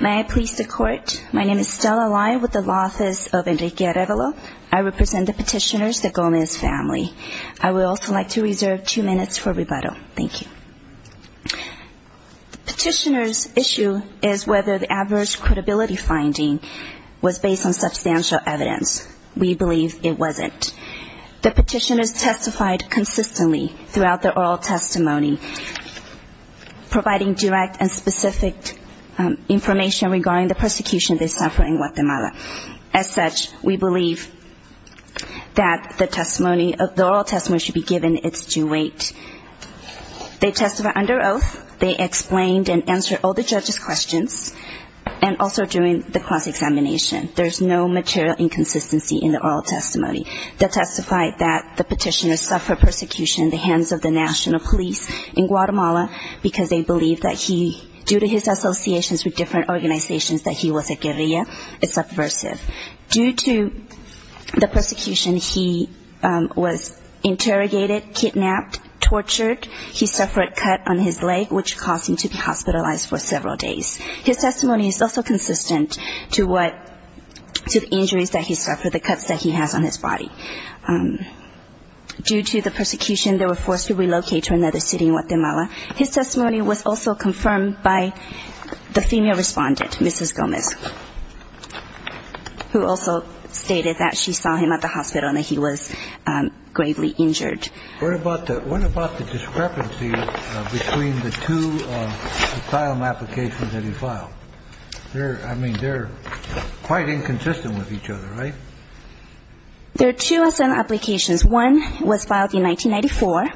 May I please the court? My name is Stella Lai with the Law Office of Enrique Arevalo. I represent the petitioners, the Gomez family. I would also like to reserve two minutes for rebuttal. Thank you. The petitioner's issue is whether the adverse credibility finding was based on substantial evidence. We believe it wasn't. The petitioners testified consistently throughout their oral testimony providing direct and specific information regarding the persecution they suffered in Guatemala. As such, we believe that the oral testimony should be given its due weight. They testified under oath. They explained and answered all the judges' questions and also during the cross-examination. There is no material inconsistency in the oral testimony. They testified that the petitioners suffered persecution in the hands of the national police in Guatemala because they believed that he, due to his associations with different organizations, that he was a guerrilla, a subversive. Due to the persecution, he was interrogated, kidnapped, tortured. He suffered a cut on his leg, which caused him to be hospitalized for several days. His testimony is also consistent to what, to the injuries that he suffered, the cuts that he has on his body. Due to the persecution, they were forced to relocate to another city in Guatemala. His testimony was also confirmed by the female respondent, Mrs. Gomez, who also stated that she saw him at the hospital and that he was gravely injured. What about the discrepancy between the two asylum applications that he filed? I mean, they're quite inconsistent with each other, right? There are two asylum applications. One was filed in 1994.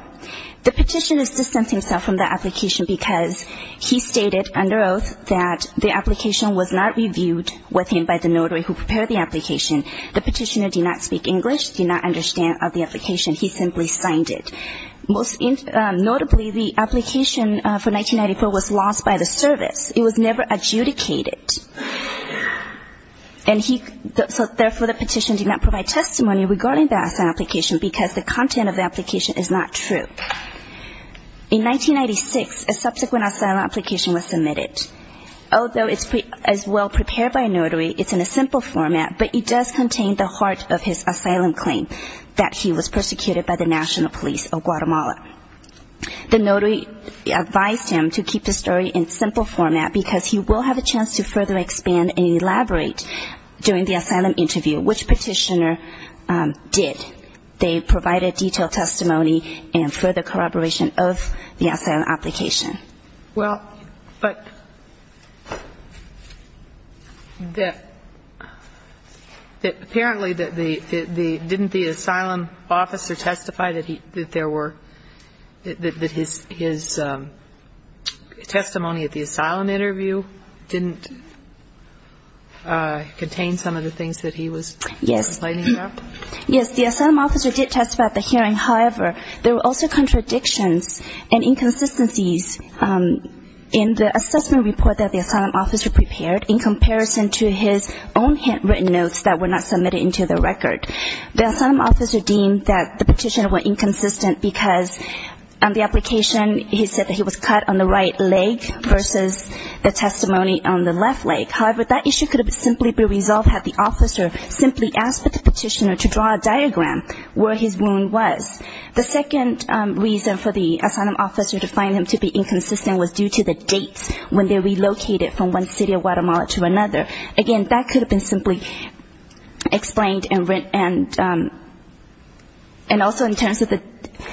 The petitioner distanced himself from the application because he stated under oath that the application was not reviewed with him by the notary who prepared the application. The petitioner did not speak English, did not understand the application. He simply signed it. Notably, the application for 1994 was lost by the service. It was never adjudicated. So therefore, the petition did not provide testimony regarding the asylum application because the content of the application is not true. In 1996, a subsequent asylum application was submitted. Although it's as well prepared by a notary, it's in a simple format, but it does contain the heart of his asylum claim, that he was persecuted by the National Police of Guatemala. The notary advised him to keep the story in simple format because he will have a chance to further expand and elaborate during the asylum interview, which petitioner did. They provided detailed testimony and further corroboration of the asylum application. Well, but the – apparently, didn't the asylum officer testify that there were – that his testimony at the asylum interview didn't contain some of the things that he was complaining about? Yes. Yes. The asylum officer did testify at the hearing. However, there were also contradictions and inconsistencies in the assessment report that the asylum officer prepared in comparison to his own handwritten notes that were not submitted into the record. The asylum officer deemed that the petitioner was inconsistent because on the application, he said that he was cut on the right leg versus the testimony on the left leg. However, that issue could have simply been resolved had the officer simply asked the petitioner to draw a diagram where his wound was. The second reason for the asylum officer to find him to be inconsistent was due to the dates when they relocated from one city of Guatemala to another. Again, that could have been simply explained and also in terms of the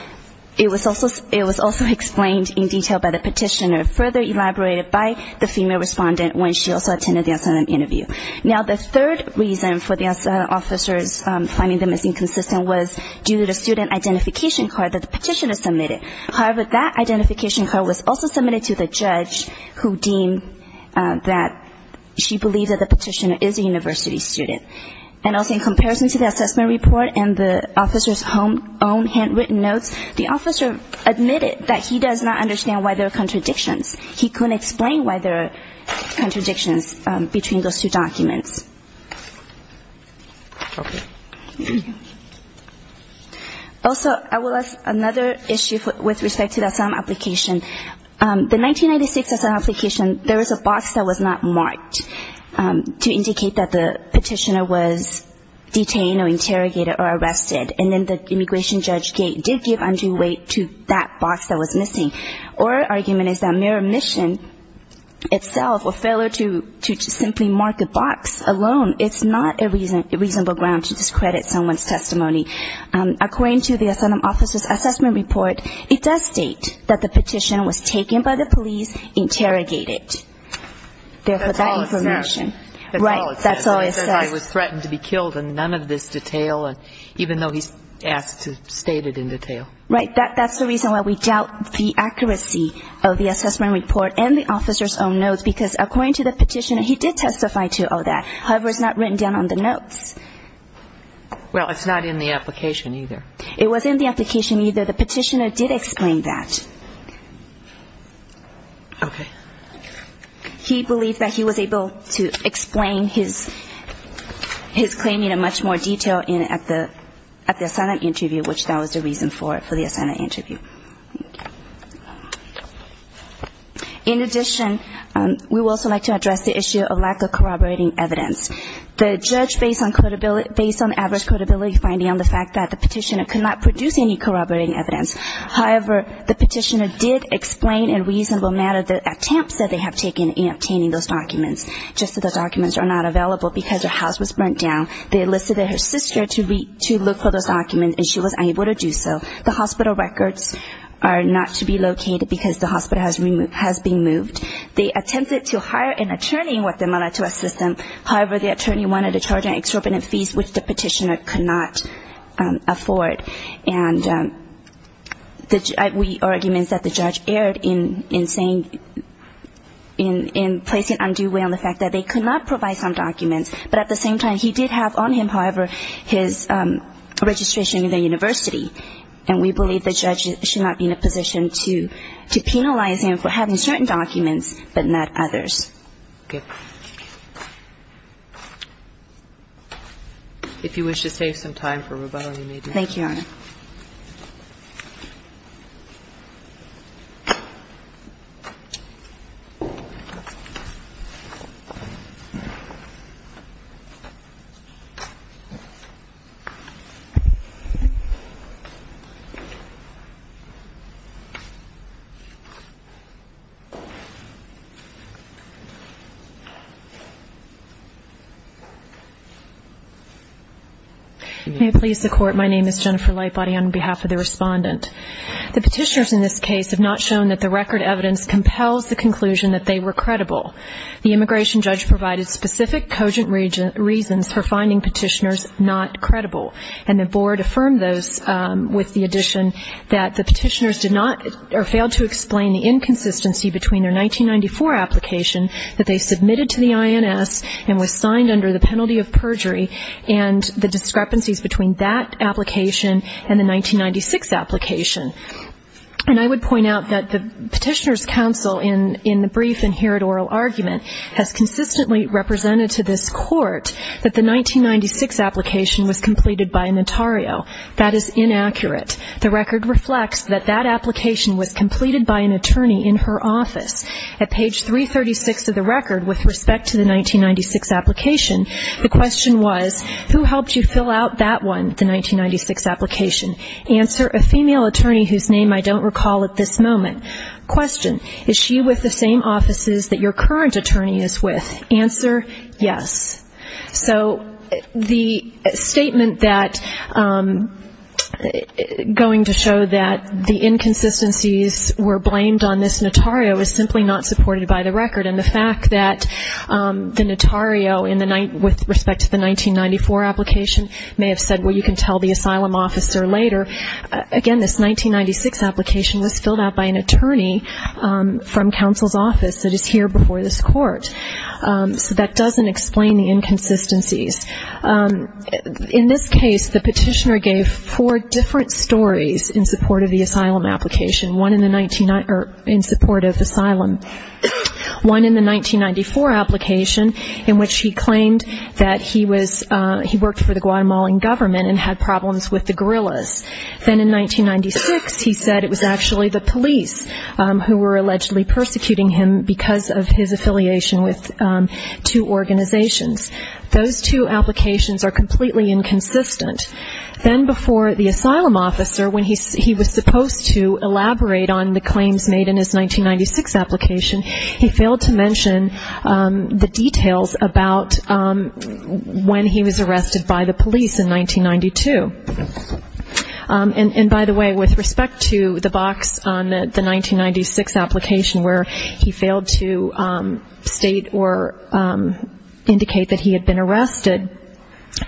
– it was also explained in detail by the petitioner, further elaborated by the female respondent when she also attended the asylum interview. Now, the third reason for the asylum officer's finding them as inconsistent was due to the student identification card that the petitioner submitted. However, that identification card was also submitted to the judge who deemed that she believed that the petitioner is a university student. And also in comparison to the assessment report and the officer's own handwritten notes, the officer admitted that he does not understand why there are contradictions. He couldn't explain why there are contradictions between those two documents. Okay. Also, I will ask another issue with respect to the asylum application. The 1996 asylum application, there was a box that was not marked to indicate that the petitioner was detained or interrogated or arrested. And then the immigration judge did give undue weight to that box that was missing. Our argument is that mere omission itself or failure to simply mark a box alone, it's not a reasonable ground to discredit someone's testimony. According to the asylum officer's assessment report, it does state that the petition was taken by the police, interrogated. That's all it says. Right. That's all it says. It says I was threatened to be killed and none of this detail, even though he's asked to state it in detail. Right. That's the reason why we doubt the accuracy of the assessment report and the officer's own notes because according to the petitioner, he did testify to all that. However, it's not written down on the notes. Well, it's not in the application either. It wasn't in the application either. The petitioner did explain that. Okay. He believed that he was able to explain his claim in much more detail at the asylum interview, which that was the reason for it, for the asylum interview. In addition, we would also like to address the issue of lack of corroborating evidence. The judge, based on average credibility, finding on the fact that the petitioner could not produce any corroborating evidence. However, the petitioner did explain in reasonable matter the attempts that they have taken in obtaining those documents, just that those documents are not available because her house was burnt down. They elicited her sister to look for those documents, and she was unable to do so. The hospital records are not to be located because the hospital has been moved. They attempted to hire an attorney in Guatemala to assist them. However, the attorney wanted to charge an extraordinary fees, which the petitioner could not afford. And we argue that the judge erred in saying, in placing undue weight on the fact that they could not provide some documents. But at the same time, he did have on him, however, his registration in the university. And we believe the judge should not be in a position to penalize him for having certain documents but not others. If you wish to take some time for rebuttal, you may do so. Thank you, Your Honor. May it please the Court, my name is Jennifer Lightbody on behalf of the respondent. The petitioners in this case have not shown that the record evidence compels the conclusion that they were credible. The immigration judge provided specific cogent reasons for finding petitioners not credible, and the board affirmed those with the addition that the petitioners did not or failed to explain the inconsistency between their 1994 application that they submitted to the INS and was signed under the penalty of perjury and the discrepancies between that application and the 1996 application. And I would point out that the petitioners' counsel in the brief and here at oral argument has consistently represented to this Court that the 1996 application was completed by an attorney. That is inaccurate. The record reflects that that application was completed by an attorney in her office. At page 336 of the record, with respect to the 1996 application, the question was, who helped you fill out that one, the 1996 application? Answer, a female attorney whose name I don't recall at this moment. Question, is she with the same offices that your current attorney is with? Answer, yes. So the statement that going to show that the inconsistencies were blamed on this notario is simply not supported by the record. And the fact that the notario with respect to the 1994 application may have said, well, you can tell the asylum officer later. Again, this 1996 application was filled out by an attorney from counsel's office that is here before this Court. So that doesn't explain the inconsistencies. In this case, the petitioner gave four different stories in support of the asylum application, one in support of asylum, one in the 1994 application, in which he claimed that he worked for the Guatemalan government and had problems with the guerrillas. Then in 1996, he said it was actually the police who were allegedly persecuting him because of his affiliation with two organizations. Those two applications are completely inconsistent. Then before the asylum officer, when he was supposed to elaborate on the claims made in his 1996 application, he failed to mention the details about when he was arrested by the police in 1992. And, by the way, with respect to the box on the 1996 application where he failed to state or indicate that he had been arrested,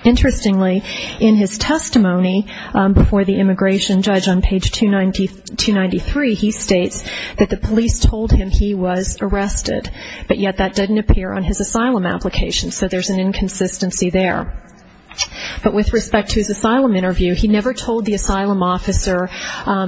interestingly, in his testimony before the immigration judge on page 293, he states that the police told him he was arrested, but yet that didn't appear on his asylum application. So there's an inconsistency there. But with respect to his asylum interview, he never told the asylum officer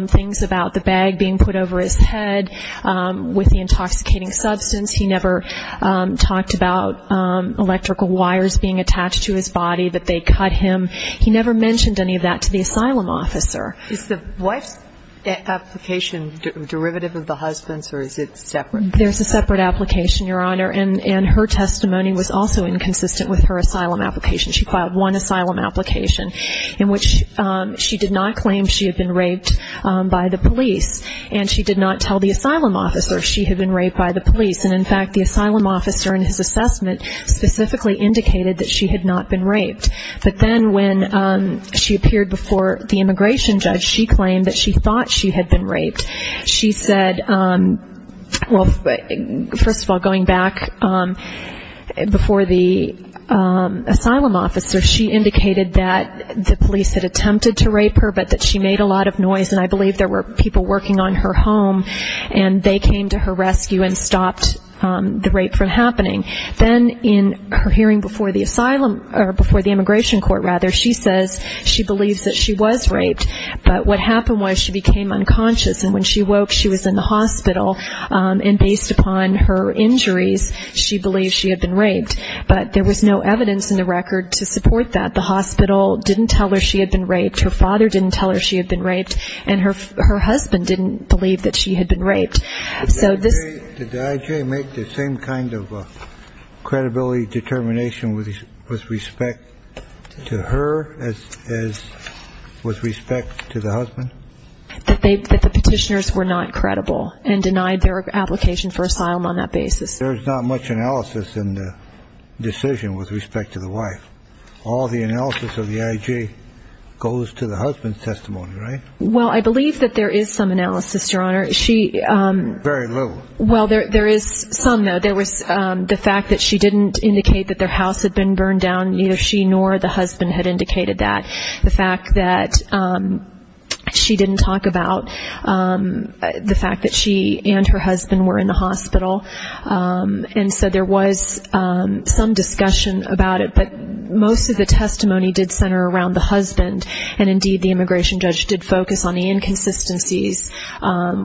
things about the bag being put over his head with the intoxicating substance. He never talked about electrical wires being attached to his body that they cut him. He never mentioned any of that to the asylum officer. Is the wife's application derivative of the husband's, or is it separate? There's a separate application, Your Honor, and her testimony was also inconsistent with her asylum application. She filed one asylum application in which she did not claim she had been raped by the police, and she did not tell the asylum officer she had been raped by the police. And, in fact, the asylum officer in his assessment specifically indicated that she had not been raped. But then when she appeared before the immigration judge, she claimed that she thought she had been raped. She said, well, first of all, going back before the asylum officer, she indicated that the police had attempted to rape her, but that she made a lot of noise, and I believe there were people working on her home, and they came to her rescue and stopped the rape from happening. Then in her hearing before the asylum or before the immigration court, rather, she says she believes that she was raped. But what happened was she became unconscious, and when she woke, she was in the hospital, and based upon her injuries, she believed she had been raped. But there was no evidence in the record to support that. The hospital didn't tell her she had been raped. Her father didn't tell her she had been raped, and her husband didn't believe that she had been raped. So this ---- That the petitioners were not credible and denied their application for asylum on that basis. There's not much analysis in the decision with respect to the wife. All the analysis of the I.G. goes to the husband's testimony, right? Well, I believe that there is some analysis, Your Honor. She ---- Very little. Well, there is some, though. There was the fact that she didn't indicate that their house had been burned down. Neither she nor the husband had indicated that. The fact that she didn't talk about the fact that she and her husband were in the hospital. And so there was some discussion about it. But most of the testimony did center around the husband, and indeed the immigration judge did focus on the inconsistencies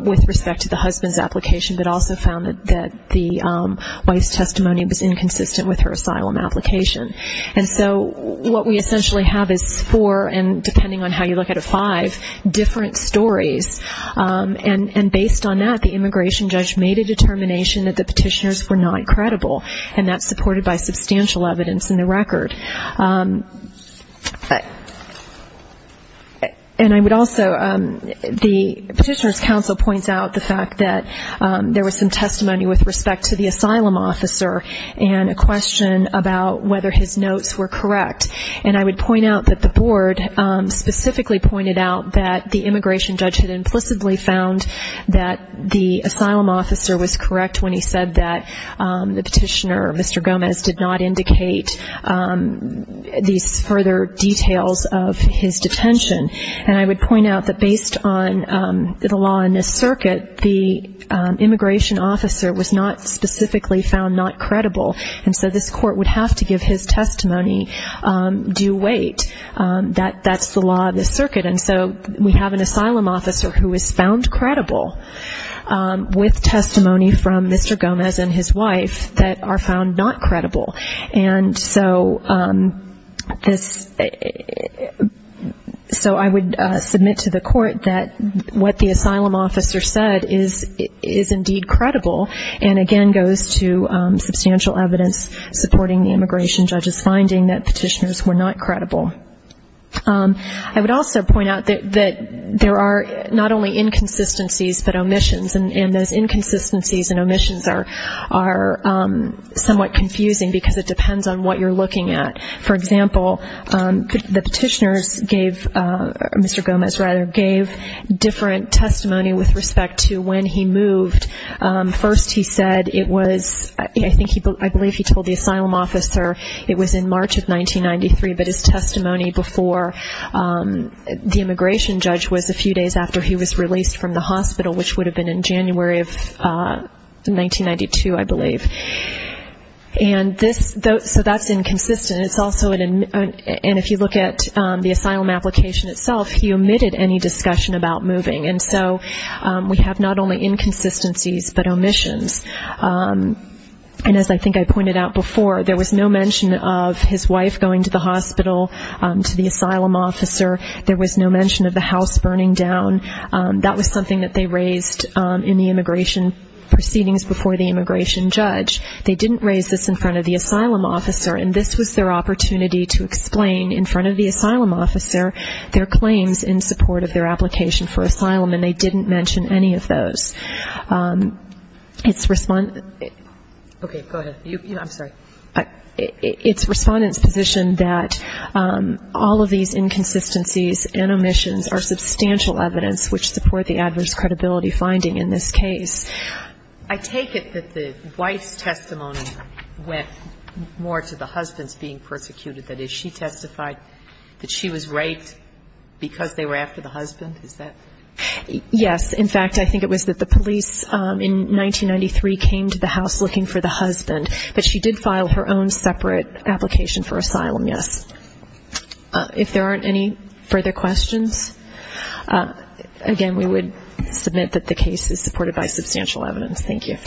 with respect to the husband's application, but also found that the wife's testimony was inconsistent with her asylum application. And so what we essentially have is four, and depending on how you look at it, five different stories. And based on that, the immigration judge made a determination that the petitioners were not credible, and that's supported by substantial evidence in the record. And I would also ---- The Petitioner's Council points out the fact that there was some testimony with respect to the asylum officer and a question about whether his notes were correct. And I would point out that the board specifically pointed out that the immigration judge had implicitly found that the asylum officer was correct when he said that the petitioner, Mr. Gomez, did not indicate these further details of his detention. And I would point out that based on the law in this circuit, that the immigration officer was not specifically found not credible, and so this court would have to give his testimony due weight. That's the law of this circuit, and so we have an asylum officer who is found credible with testimony from Mr. Gomez and his wife that are found not credible. And so this ---- So I would submit to the court that what the asylum officer said is indeed credible, and again goes to substantial evidence supporting the immigration judge's finding that petitioners were not credible. I would also point out that there are not only inconsistencies but omissions, and those inconsistencies and omissions are somewhat confusing because it depends on what you're looking at. For example, the petitioners gave ---- Mr. Gomez, rather, gave different testimony with respect to when he moved. First he said it was ---- I believe he told the asylum officer it was in March of 1993, but his testimony before the immigration judge was a few days after he was released from the hospital, which would have been in January of 1992, I believe. And this ---- so that's inconsistent. It's also an ---- and if you look at the asylum application itself, he omitted any discussion about moving, and so we have not only inconsistencies but omissions. And as I think I pointed out before, there was no mention of his wife going to the hospital, to the asylum officer, there was no mention of the house burning down. That was something that they raised in the immigration proceedings before the immigration judge. They didn't raise this in front of the asylum officer, and this was their opportunity to explain in front of the asylum officer their claims in support of their application for asylum, and they didn't mention any of those. It's ---- okay, go ahead. I'm sorry. It's Respondent's position that all of these inconsistencies and omissions are substantial evidence which support the adverse credibility finding in this case. I take it that the wife's testimony went more to the husband's being persecuted. That is, she testified that she was raped because they were after the husband? Is that ---- Yes. In fact, I think it was that the police in 1993 came to the house looking for the husband, but she did file her own separate application for asylum, yes. If there aren't any further questions, again, we would submit that the case is supported by substantial evidence. Thank you.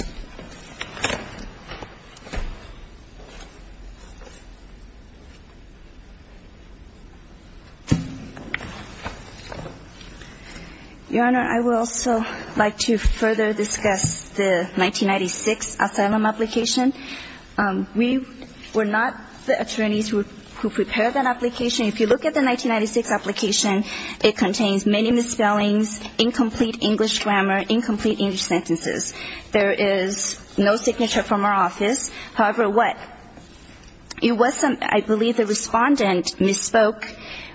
Your Honor, I would also like to further discuss the 1996 asylum application. We were not the attorneys who prepared that application. If you look at the 1996 application, it contains many misspellings, incomplete English grammar, incomplete English sentences. There is no signature from our office. However, what? It wasn't ---- I believe the Respondent misspoke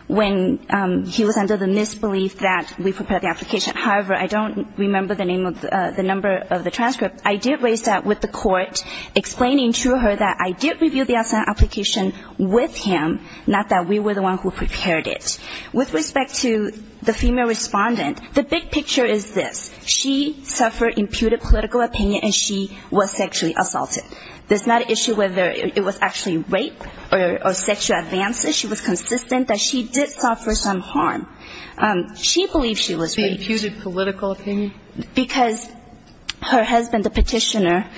when he was under the misbelief that we prepared the application. However, I don't remember the name of the number of the transcript. I did raise that with the court, explaining to her that I did review the asylum application with him, not that we were the one who prepared it. With respect to the female Respondent, the big picture is this. She suffered imputed political opinion, and she was sexually assaulted. There's not an issue whether it was actually rape or sexual advances. She was consistent that she did suffer some harm. She believed she was raped. Imputed political opinion? Because her husband, the petitioner,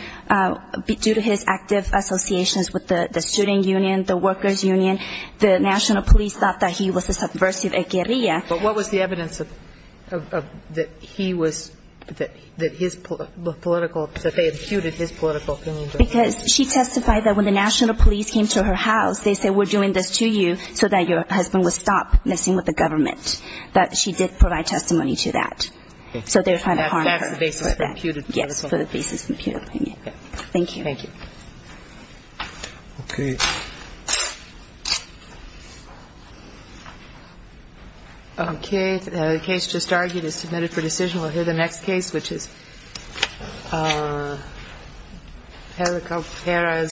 due to his active associations with the student union, the workers' union, the national police thought that he was a subversive, a guerrilla. But what was the evidence that he was ---- that his political ---- that they imputed his political opinion? Because she testified that when the national police came to her house, they said, we're doing this to you so that your husband would stop messing with the government, that she did provide testimony to that. So they were trying to harm her. That's the basis of the imputed political opinion? Yes, for the basis of the imputed political opinion. Thank you. Thank you. Okay. Okay. The case just argued is submitted for decision. We'll hear the next case, which is Perez.